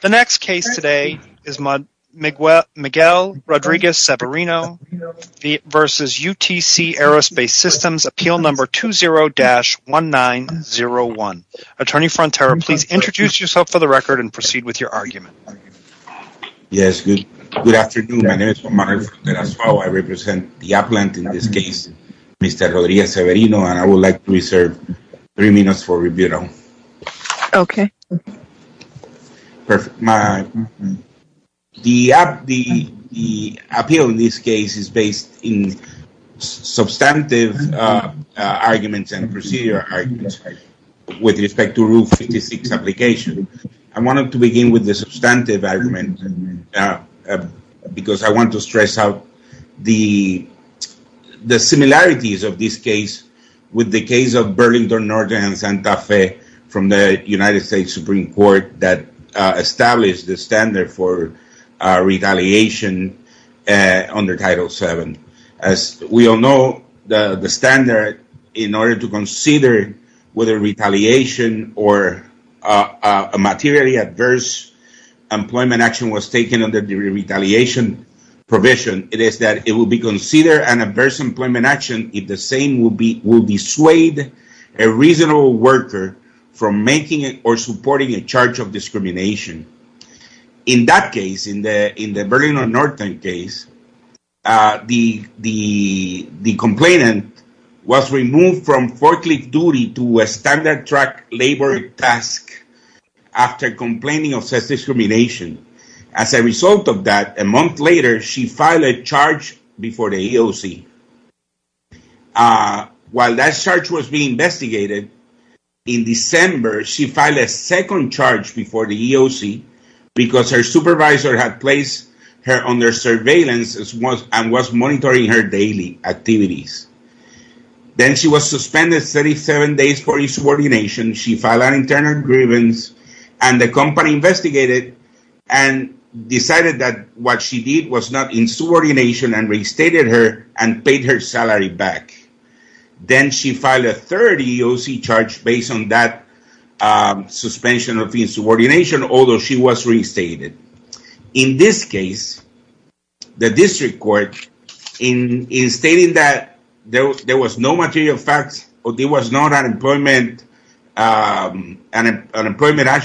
The next case today is Miguel Rodriguez-Severino v. UTC Aerospace Systems, appeal number 20-1901. Attorney Frontera, please introduce yourself for the record and proceed with your argument. Yes, good afternoon. My name is Juan Manuel Frontera-Azuao. I represent the appellant in this case, Mr. Rodriguez-Severino, and I would like to reserve three minutes for rebuttal. Okay. The appeal in this case is based in substantive arguments and procedure arguments with respect to Rule 56 application. I wanted to begin with the substantive argument because I want to stress out the similarities of this case with the case of Burlington Northern and Santa Fe from the United States Supreme Court that established the standard for retaliation under Title VII. As we all know, the standard in order to consider whether retaliation or a materially adverse employment action was taken under the retaliation provision, it is that it will be considered an adverse employment action if the same will dissuade a reasonable worker from making or supporting a charge of discrimination. In that case, in the Burlington Northern case, the complainant was removed from forklift duty to a standard truck labor task after complaining of such discrimination. As a result of that, a month later, she filed a charge before the EOC. While that charge was being investigated, in December, she filed a second charge before the EOC because her supervisor had placed her under surveillance and was monitoring her daily activities. Then she was suspended 37 days for insubordination. She filed an internal grievance, and the company investigated and decided that what she did was not insubordination and restated her and paid her salary back. Then she filed a third EOC charge based on that suspension of insubordination, although she was restated. In this case, the district court, in stating that there was no material facts or there was not an employment action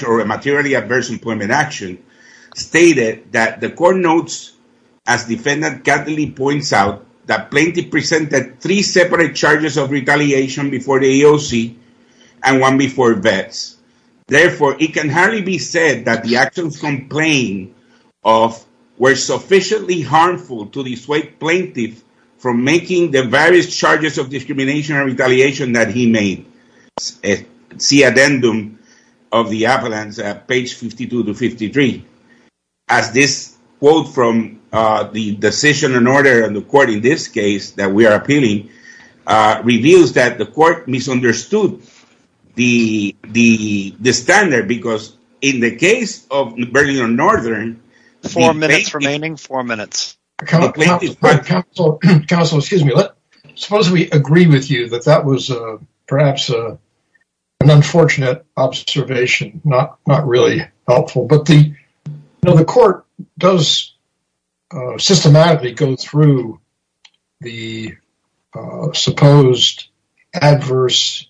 or a materially adverse employment action, stated that the court notes, as defendant Kathleen points out, that plaintiff presented three separate charges of retaliation before the EOC and one before vets. Therefore, it can hardly be said that the actions complained of were sufficiently harmful to the plaintiff from making the various charges of discrimination and retaliation that he made. See addendum of the avalanche at page 52 to 53. As this quote from the decision and order and the court in this case that we are appealing reveals that the court misunderstood the standard because in the case of Northern... Four minutes remaining, four minutes. Counsel, excuse me. Suppose we agree with you that that was perhaps an unfortunate observation, not really helpful. The court does systematically go through the supposed adverse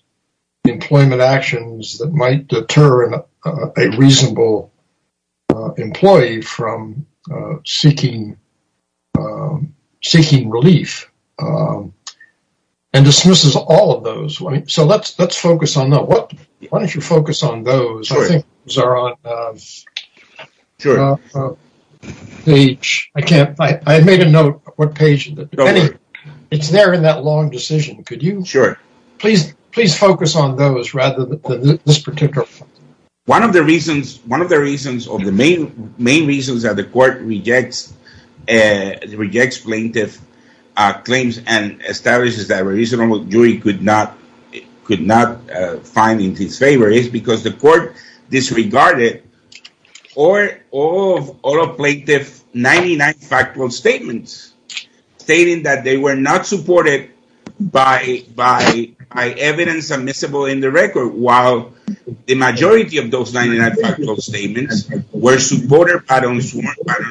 employment actions that might deter a reasonable employee from seeking relief and dismisses all of those. So let's focus on that. Why don't you focus on those? I think those are on page... I made a note of what page... It's there in that long decision. Could you please focus on those rather than this particular one? One of the reasons of the main reasons that the court rejects plaintiff claims and establishes that a reasonable jury could not find in his favor is because the court disregarded all of plaintiff 99 factual statements stating that they were not supported by evidence admissible in the record. While the majority of those 99 factual statements were supported by the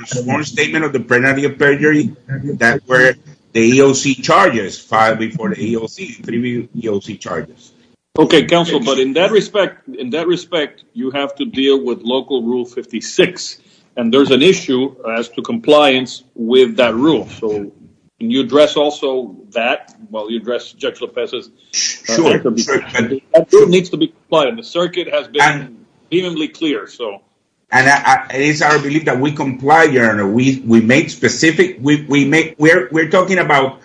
sworn statement of the penalty of perjury that were the EOC charges filed before the EOC charges. Okay, counsel, but in that respect, in that respect, you have to deal with local rule 56, and there's an issue as to compliance with that rule. So can you address also that while you address Judge Lopez's... The circuit has been evenly clear, so... And it's our belief that we comply, your honor. We make specific... We're talking about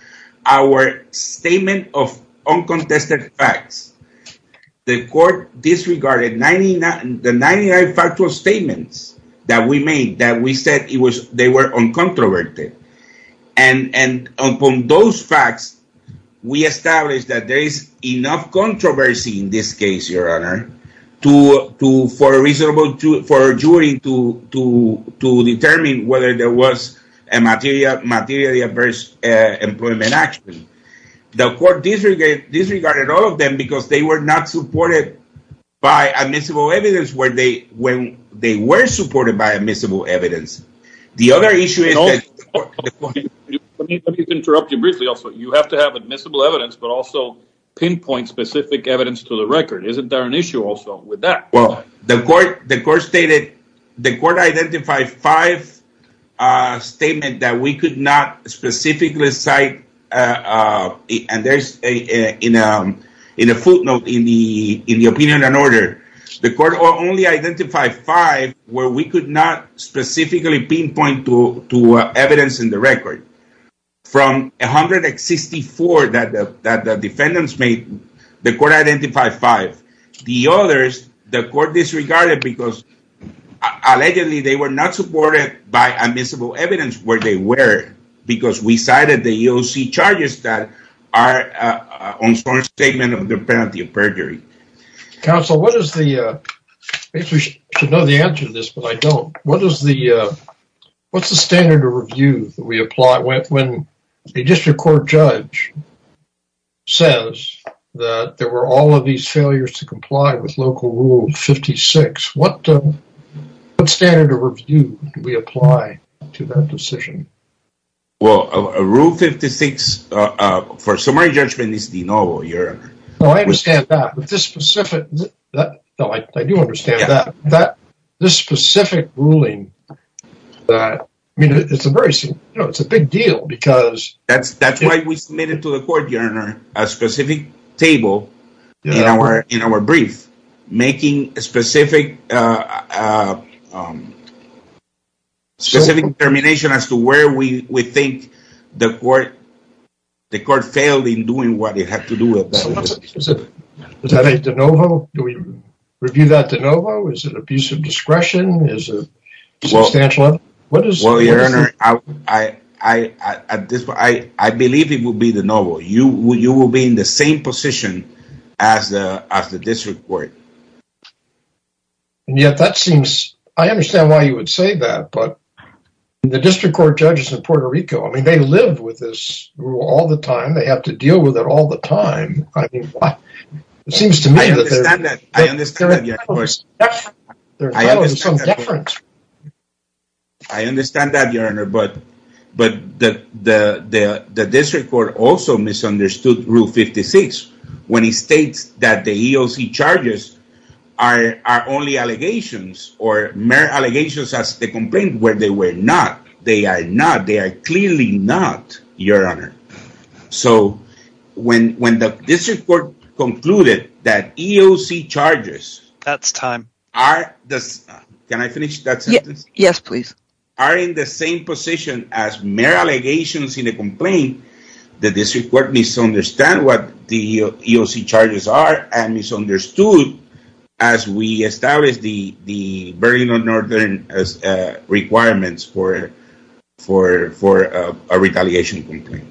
our statement of uncontested facts. The court disregarded the 99 factual statements that we made that we said they were uncontroverted. And upon those facts, we established that there is enough controversy in this case, your honor, for a jury to determine whether there was a materially adverse employment action. The court disregarded all of them because they were not supported by admissible evidence when they were supported by admissible evidence. The other issue is that... Let me interrupt you briefly also. You have to have admissible evidence, but also pinpoint specific evidence to the record. Isn't there an issue also with that? Well, the court stated... The court identified five statements that we could not specifically cite, and there's a footnote in the opinion and order. The court only identified five where we could not specifically pinpoint to evidence in the record. From 164 that the defendants made, the court identified five. The others, the court disregarded because allegedly they were not supported by admissible evidence where they were because we cited the EOC charges that are on some statement of the penalty of perjury. Counsel, what is the... I should know the answer to this, but I don't. What's the standard of review that we apply when a district court judge says that there were all of these failures to comply with Local Rule 56? What standard of review do we apply to that decision? Well, Rule 56, for summary judgment, is de novo. I understand that, but this specific... I do understand that. This specific ruling, it's a big deal because... That's why we submitted to the court, Your Honor, a specific table in our brief, making a specific determination as to where we think the court failed in doing what it had to do with that. Is that a de novo? Do we review that de novo? Is it a piece of discretion? Is it substantial? Well, Your Honor, I believe it would be de novo. You will be in the same position as the district court. And yet, that seems... I understand why you would say that, but the district court judges in Puerto Rico, I mean, they live with this rule all the time. They have to deal with it all the time. I mean, why? It seems to me that they're... I understand that. I understand that, Your Honor. They're dealing with some deference. I understand that, Your Honor. But the district court also misunderstood Rule 56 when it states that the EOC charges are only allegations or mere allegations as the complaint where they were not. They are not. They are clearly not, Your Honor. So, when the district court concluded that EOC charges... That's time. Are... Can I finish that sentence? Yes, please. ...are in the same position as mere allegations in a complaint, the district court misunderstood what the EOC charges are and misunderstood as we established the Burlington Northern requirements for a retaliation complaint.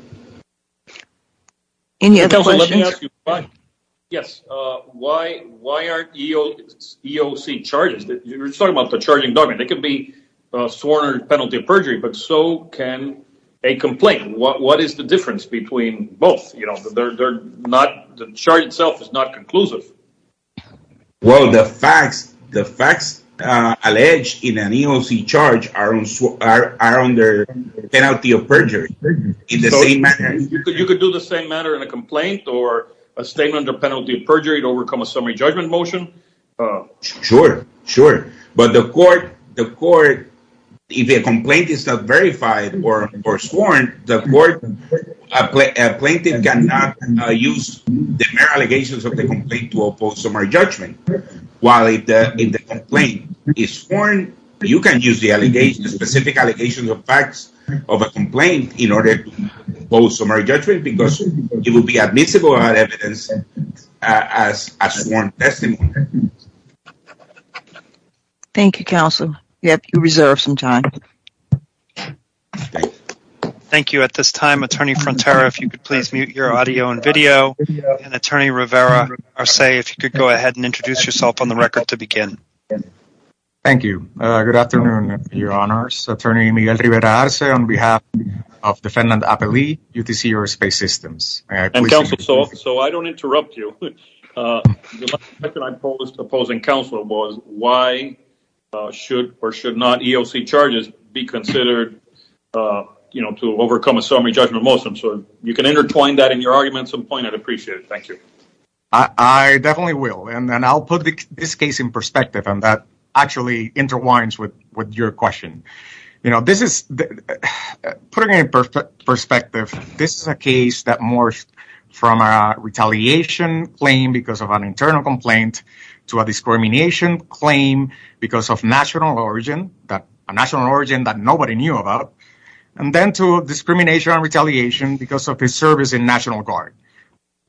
Any other questions? Yes. Why aren't EOC charges... You're talking about the charging document. It can be sworn or penalty of perjury, but so can a complaint. What is the difference between both? They're not... The charge itself is not conclusive. Well, the facts alleged in an EOC charge are under penalty of perjury in the same manner. You could do the same manner in a complaint or a statement under penalty of perjury to overcome a summary judgment motion. Sure, sure. But the court... The court... If a complaint is not verified or sworn, the court... A plaintiff cannot use the mere allegations of the complaint to oppose summary judgment. While if the complaint is sworn, you can use the specific allegations of facts of a complaint in order to oppose summary judgment because it will be admissible as evidence as sworn testimony. Thank you, counsel. You have to reserve some time. Thank you. At this time, Attorney Frontera, if you could please mute your audio and video, and Attorney Rivera-Arce, if you could go ahead and introduce yourself on the record to begin. Thank you. Good afternoon, Your Honors. Attorney Miguel Rivera-Arce on behalf of defendant Apelli, UTC Aerospace Systems. And, Counsel, so I don't interrupt you. The last question I posed to opposing counsel was why should or should not EOC charges be considered, you know, to overcome a summary judgment motion. So you can intertwine that in your argument at some point. I'd appreciate it. Thank you. I definitely will. And I'll put this case in perspective, and that actually interwinds with your question. You know, this is, putting it in perspective, this is a case that morphed from a retaliation claim because of an internal complaint to a discrimination claim because of national origin, a national origin that nobody knew about, and then to discrimination and retaliation because of his service in National Guard.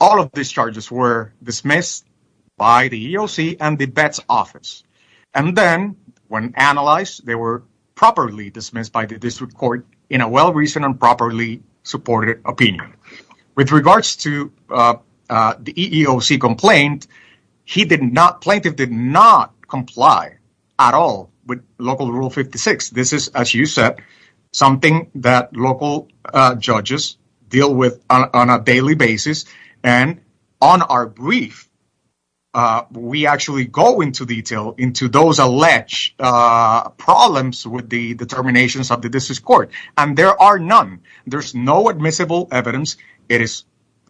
All of these charges were dismissed by the EOC and the Vets Office. And then when analyzed, they were properly dismissed by the district court in a well-reasoned and properly supported opinion. With regards to the EEOC complaint, he did not, plaintiff did not comply at all with Local Rule 56. This is, as you said, something that local judges deal with on a daily basis. And on our brief, we actually go into detail into those alleged problems with the determinations of the district court. And there are none. There's no admissible evidence.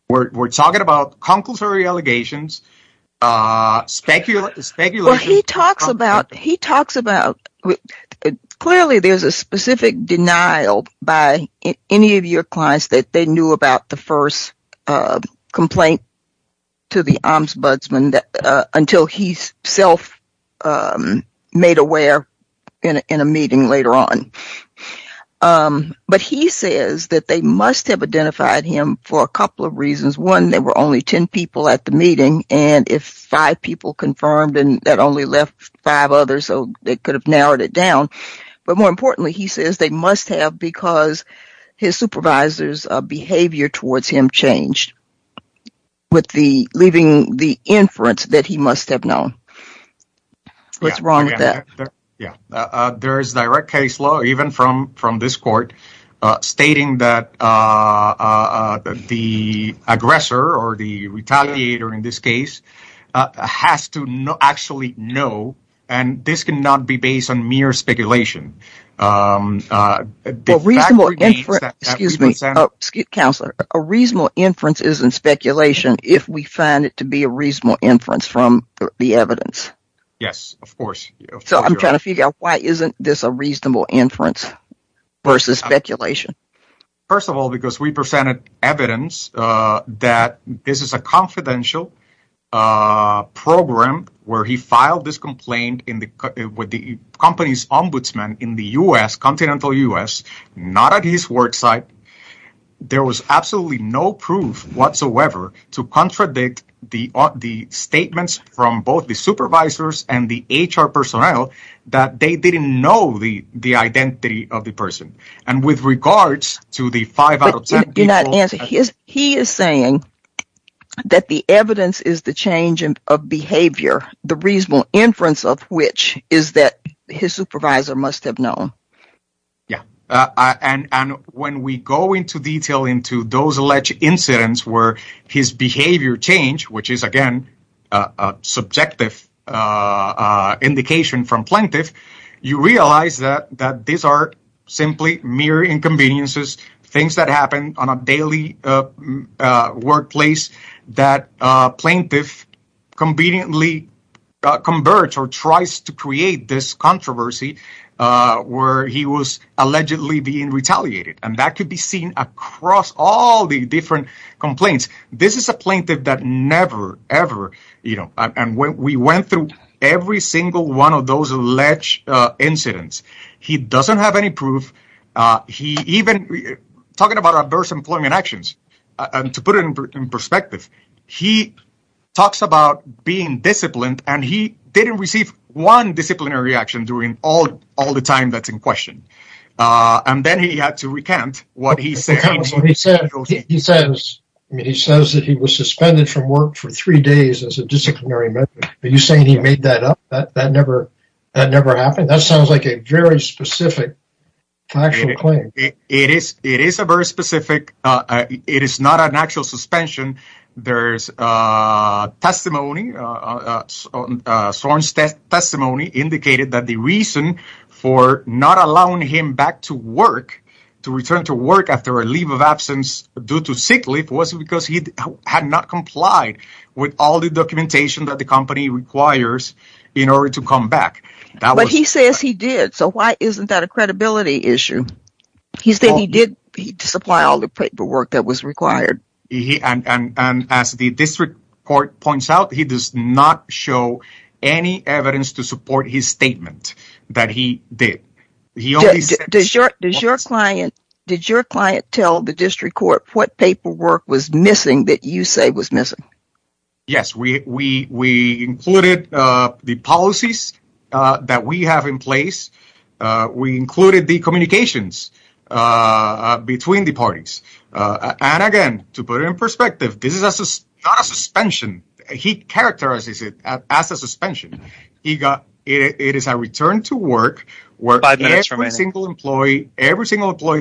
We're talking about conclusory allegations, speculation. Well, he talks about, he talks about, clearly there's a specific denial by any of your clients that they knew about the first complaint to the Ombudsman until he's self-made aware in a meeting later on. But he says that they must have identified him for a couple of reasons. One, there were only 10 people at the meeting, and if five people confirmed, that only left five others, so they could have narrowed it down. But more importantly, he says they must have because his supervisor's behavior towards him changed, leaving the inference that he must have known. What's wrong with that? There is direct case law, even from this court, stating that the aggressor, or the retaliator in this case, has to actually know. And this cannot be based on mere speculation. Excuse me. Counselor, a reasonable inference isn't speculation if we find it to be a reasonable inference from the evidence. Yes, of course. So I'm trying to figure out why isn't this a reasonable inference versus speculation? First of all, because we presented evidence that this is a confidential program where he filed this complaint with the company's Ombudsman in the U.S., continental U.S., not at his work site. There was absolutely no proof whatsoever to contradict the statements from both the supervisors and the HR personnel that they didn't know the identity of the person. And with regards to the five out of ten people – You're not answering. He is saying that the evidence is the change of behavior, the reasonable inference of which is that his supervisor must have known. And when we go into detail into those alleged incidents where his behavior changed, which is, again, a subjective indication from plaintiff, you realize that these are simply mere inconveniences, things that happen on a daily workplace that a plaintiff conveniently converts or tries to create this controversy where he was allegedly being retaliated. And that could be seen across all the different complaints. This is a plaintiff that never, ever – and we went through every single one of those alleged incidents. He doesn't have any proof. He even – talking about adverse employment actions, to put it in perspective, he talks about being disciplined, and he didn't receive one disciplinary action during all the time that's in question. And then he had to recant what he said. He says that he was suspended from work for three days as a disciplinary measure. Are you saying he made that up? That never happened? That sounds like a very specific factual claim. It is a very specific – it is not an actual suspension. There's testimony – Soren's testimony indicated that the reason for not allowing him back to work, to return to work after a leave of absence due to sick leave, was because he had not complied with all the documentation that the company requires in order to come back. But he says he did, so why isn't that a credibility issue? He said he did supply all the paperwork that was required. And as the district court points out, he does not show any evidence to support his statement that he did. Does your client – did your client tell the district court what paperwork was missing that you say was missing? Yes. We included the policies that we have in place. We included the communications between the parties. And again, to put it in perspective, this is not a suspension. He characterizes it as a suspension. It is a return to work where every single employee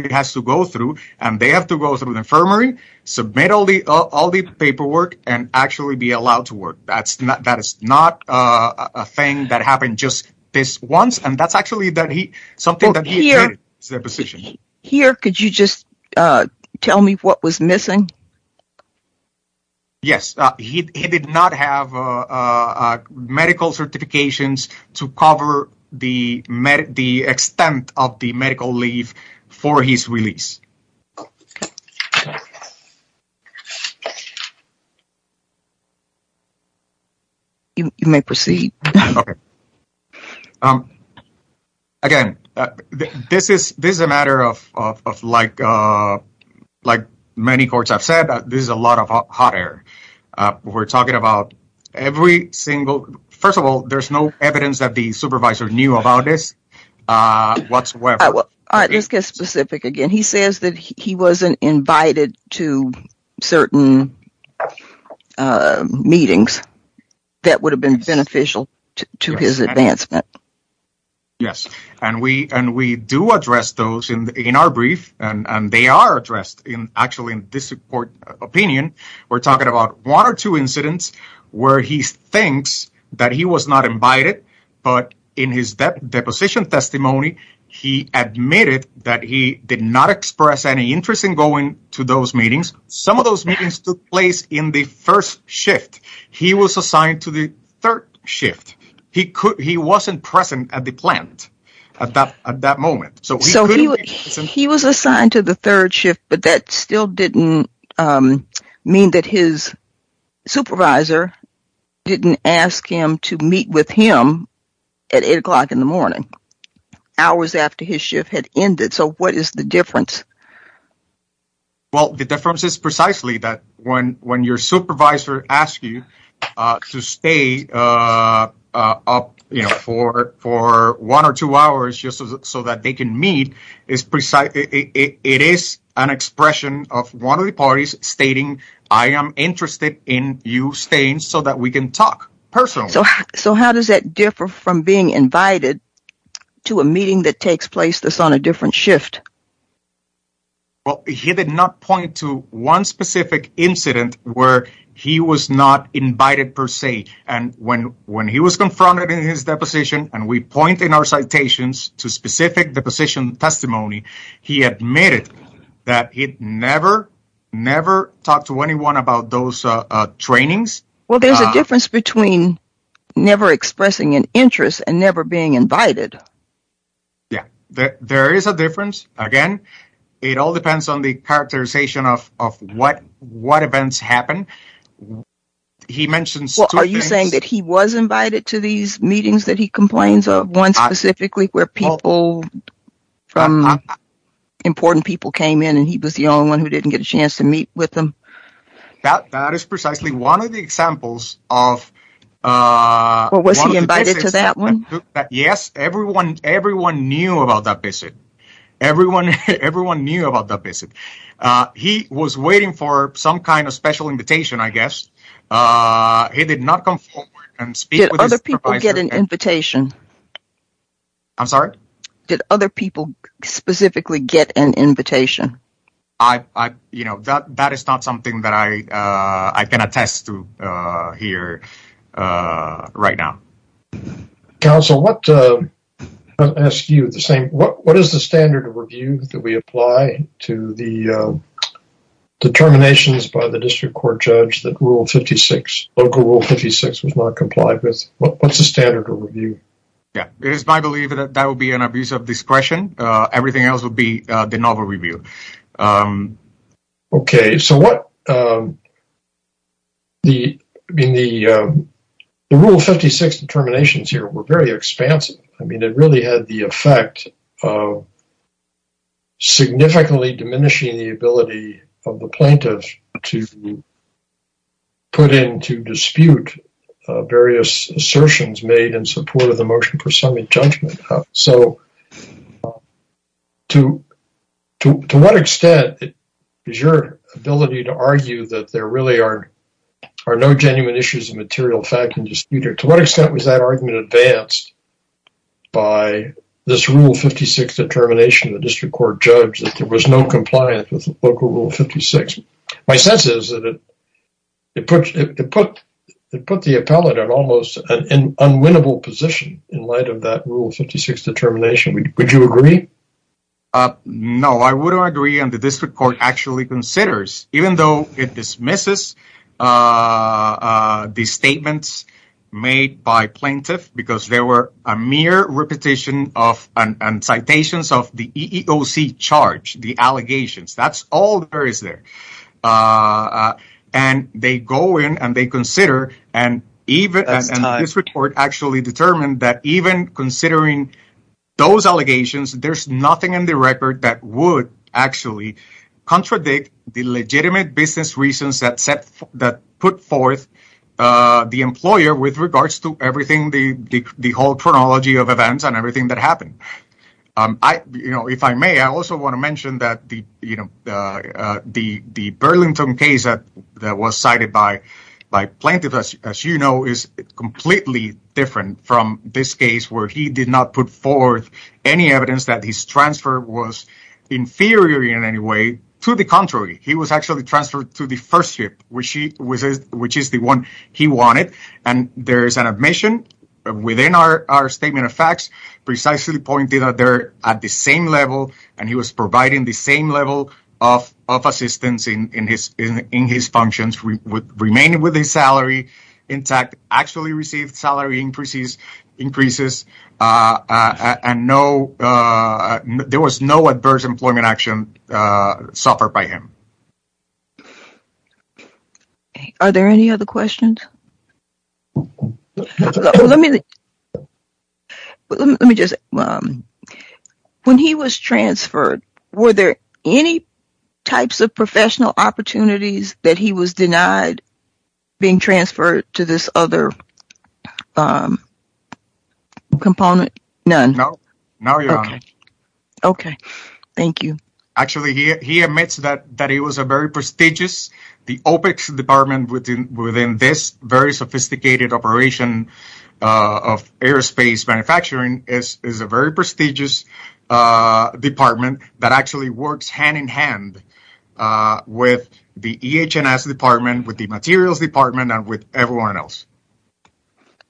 has to go through, and they have to go through the infirmary, submit all the paperwork, and actually be allowed to work. That is not a thing that happened just this once, and that's actually something that he did. Here, could you just tell me what was missing? Yes. He did not have medical certifications to cover the extent of the medical leave for his release. You may proceed. Okay. Again, this is a matter of, like many courts have said, this is a lot of hot air. We're talking about every single – first of all, there's no evidence that the supervisor knew about this whatsoever. All right. Let's get specific again. He says that he wasn't invited to certain meetings that would have been beneficial to his advancement. Yes, and we do address those in our brief, and they are addressed, actually, in this court opinion. We're talking about one or two incidents where he thinks that he was not invited, but in his deposition testimony, he admitted that he did not express any interest in going to those meetings. Some of those meetings took place in the first shift. He was assigned to the third shift. He wasn't present at the plant at that moment. So he was assigned to the third shift, but that still didn't mean that his supervisor didn't ask him to meet with him at 8 o'clock in the morning, hours after his shift had ended. So what is the difference? Well, the difference is precisely that when your supervisor asks you to stay up for one or two hours just so that they can meet, it is an expression of one of the parties stating, I am interested in you staying so that we can talk personally. So how does that differ from being invited to a meeting that takes place that's on a different shift? Well, he did not point to one specific incident where he was not invited per se, and when he was confronted in his deposition, and we point in our citations to specific deposition testimony, he admitted that he'd never, never talked to anyone about those trainings. Well, there's a difference between never expressing an interest and never being invited. Yeah, there is a difference. Again, it all depends on the characterization of what events happen. Are you saying that he was invited to these meetings that he complains of, one specifically where people from important people came in and he was the only one who didn't get a chance to meet with them? That is precisely one of the examples of... Was he invited to that one? Yes, everyone knew about that visit. Everyone knew about that visit. He was waiting for some kind of special invitation, I guess. He did not come forward and speak with his supervisor. Did other people get an invitation? I'm sorry? Did other people specifically get an invitation? That is not something that I can attest to here right now. Counsel, what is the standard of review that we apply to the determinations by the district court judge that Local Rule 56 was not complied with? What's the standard of review? Yeah, it is my belief that that would be an abuse of discretion. Everything else would be the novel review. Okay. The Rule 56 determinations here were very expansive. I mean, it really had the effect of significantly diminishing the ability of the plaintiff to put into dispute various assertions made in support of the motion for summary judgment. So, to what extent is your ability to argue that there really are no genuine issues of material fact in dispute? To what extent was that argument advanced by this Rule 56 determination of the district court judge that there was no compliance with Local Rule 56? My sense is that it put the appellate in almost an unwinnable position in light of that Rule 56 determination. Would you agree? No, I wouldn't agree and the district court actually considers even though it dismisses the statements made by plaintiff because there were a mere repetition of and citations of the EEOC charge, the allegations. That's all there is there and they go in and they consider and even this report actually determined that even considering those allegations, there's nothing in the record that would actually contradict the legitimate business reasons that put forth the employer with regards to everything, the whole chronology of events and everything that happened. If I may, I also want to mention that the Burlington case that was cited by plaintiff, as you know, is completely different from this case where he did not put forth any evidence that his transfer was inferior in any way. To the contrary, he was actually transferred to the first ship, which is the one he wanted and there is an admission within our statement of facts precisely pointed out there at the same level and he was providing the same level of assistance in his functions, remaining with his salary intact, actually received salary increases and there was no adverse employment action. Are there any other questions? Let me just, when he was transferred, were there any types of professional opportunities that he was denied being transferred to this other component? None? No, your honor. Okay, thank you. Actually, he admits that it was a very prestigious, the OPEX department within this very sophisticated operation of aerospace manufacturing is a very prestigious department that actually works hand in hand with the EH&S department, with the materials department and with everyone else.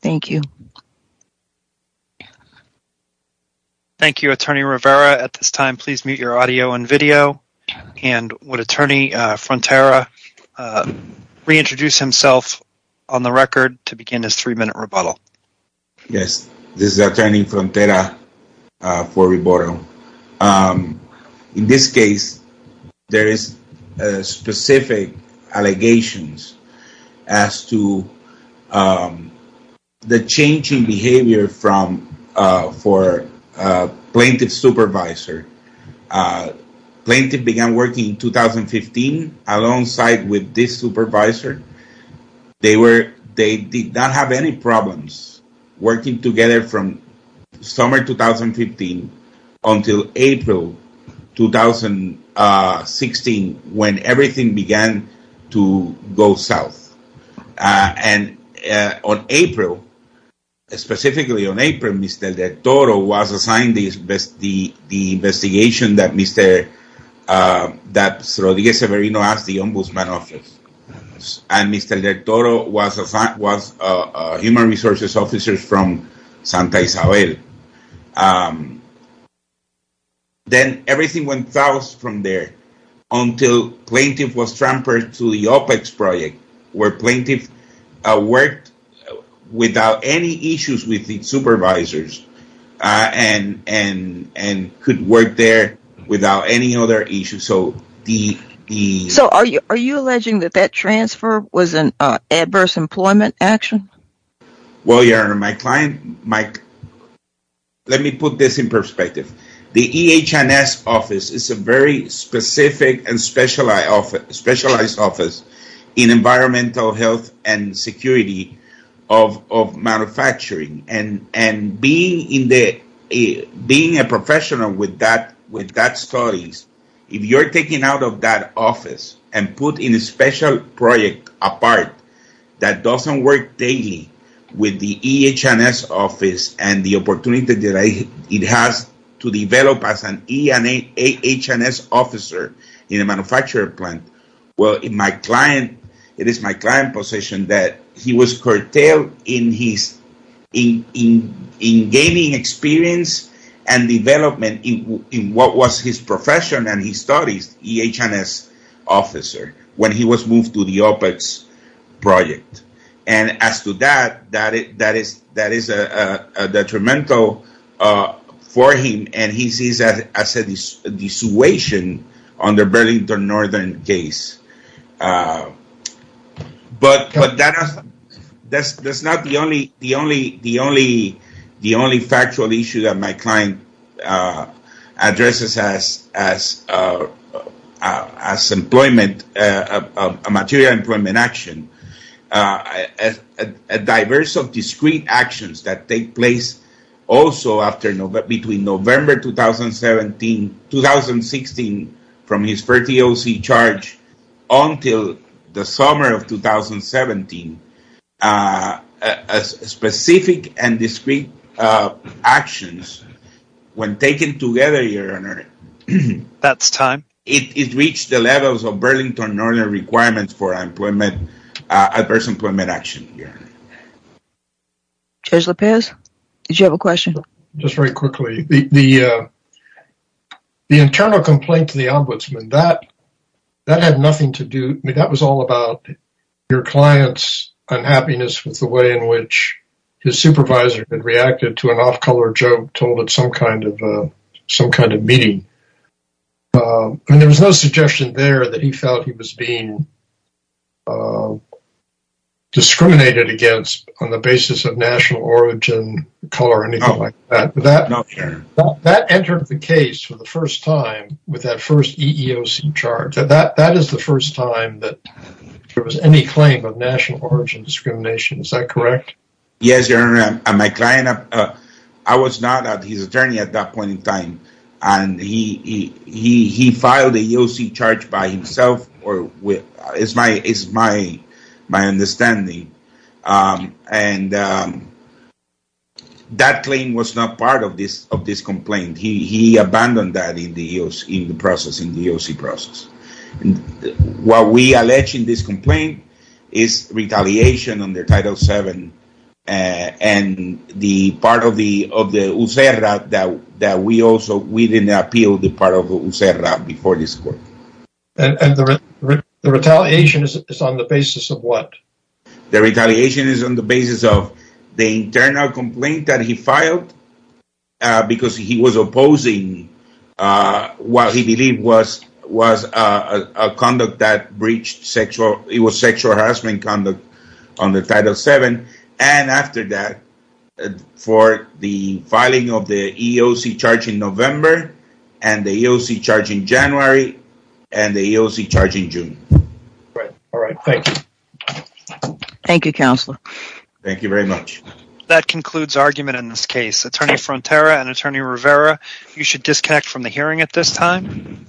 Thank you. Thank you, attorney Rivera. At this time, please mute your audio and video and would attorney Frontera reintroduce himself on the record to begin his three minute rebuttal. Yes, this is attorney Frontera for rebuttal. In this case, there is specific allegations as to the changing behavior for plaintiff's supervisor. Plaintiff began working in 2015 alongside with this supervisor. They did not have any problems working together from summer 2015 until April 2016 when everything began to go south. And on April, specifically on April, Mr. Del Toro was assigned the investigation that Mr. Rodriguez Severino asked the Ombudsman Office. And Mr. Del Toro was a human resources officer from Santa Isabel. Then everything went south from there until plaintiff was transferred to the OPEX project where plaintiff worked without any issues with the supervisors and could work there without any other issues. So are you alleging that that transfer was an adverse employment action? Well, your honor, my client, Mike, let me put this in perspective. The EHS office is a very specific and specialized office in environmental health and security of manufacturing. And being a professional with that studies, if you're taken out of that office and put in a special project apart that doesn't work daily with the EHS office and the opportunity that it has to develop as an EHS officer in a manufacturing plant. Well, it is my client's position that he was curtailed in gaining experience and development in what was his profession and his studies, EHS officer, when he was moved to the OPEX project. And as to that, that is detrimental for him and he sees that as a dissuasion on the Burlington Northern case. But that's not the only factual issue that my client addresses as employment, a material employment action. A diverse of discrete actions that take place also between November 2016 from his 30 OC charge until the summer of 2017. Specific and discrete actions when taken together, your honor. That's time. It reached the levels of Burlington Northern requirements for adverse employment action. Judge Lopez, did you have a question? Just very quickly. The internal complaint to the ombudsman, that had nothing to do, I mean, that was all about your client's unhappiness with the way in which his supervisor had reacted to an off-color joke told at some kind of meeting. And there was no suggestion there that he felt he was being discriminated against on the basis of national origin, color, anything like that. That entered the case for the first time with that first EEOC charge. That is the first time that there was any claim of national origin discrimination. Is that correct? Yes, your honor. I was not at his attorney at that point in time, and he filed the EEOC charge by himself. It's my understanding. And that claim was not part of this complaint. He abandoned that in the EEOC process. What we allege in this complaint is retaliation under Title VII and the part of the USERRA that we also, we didn't appeal the part of the USERRA before this court. And the retaliation is on the basis of what? The retaliation is on the basis of the internal complaint that he filed because he was opposing what he believed was a conduct that breached sexual, it was sexual harassment conduct under Title VII. And after that, for the filing of the EEOC charge in November and the EEOC charge in January and the EEOC charge in June. All right. Thank you. Thank you, Counselor. Thank you very much. That concludes argument in this case. Attorney Frontera and Attorney Rivera, you should disconnect from the hearing at this time.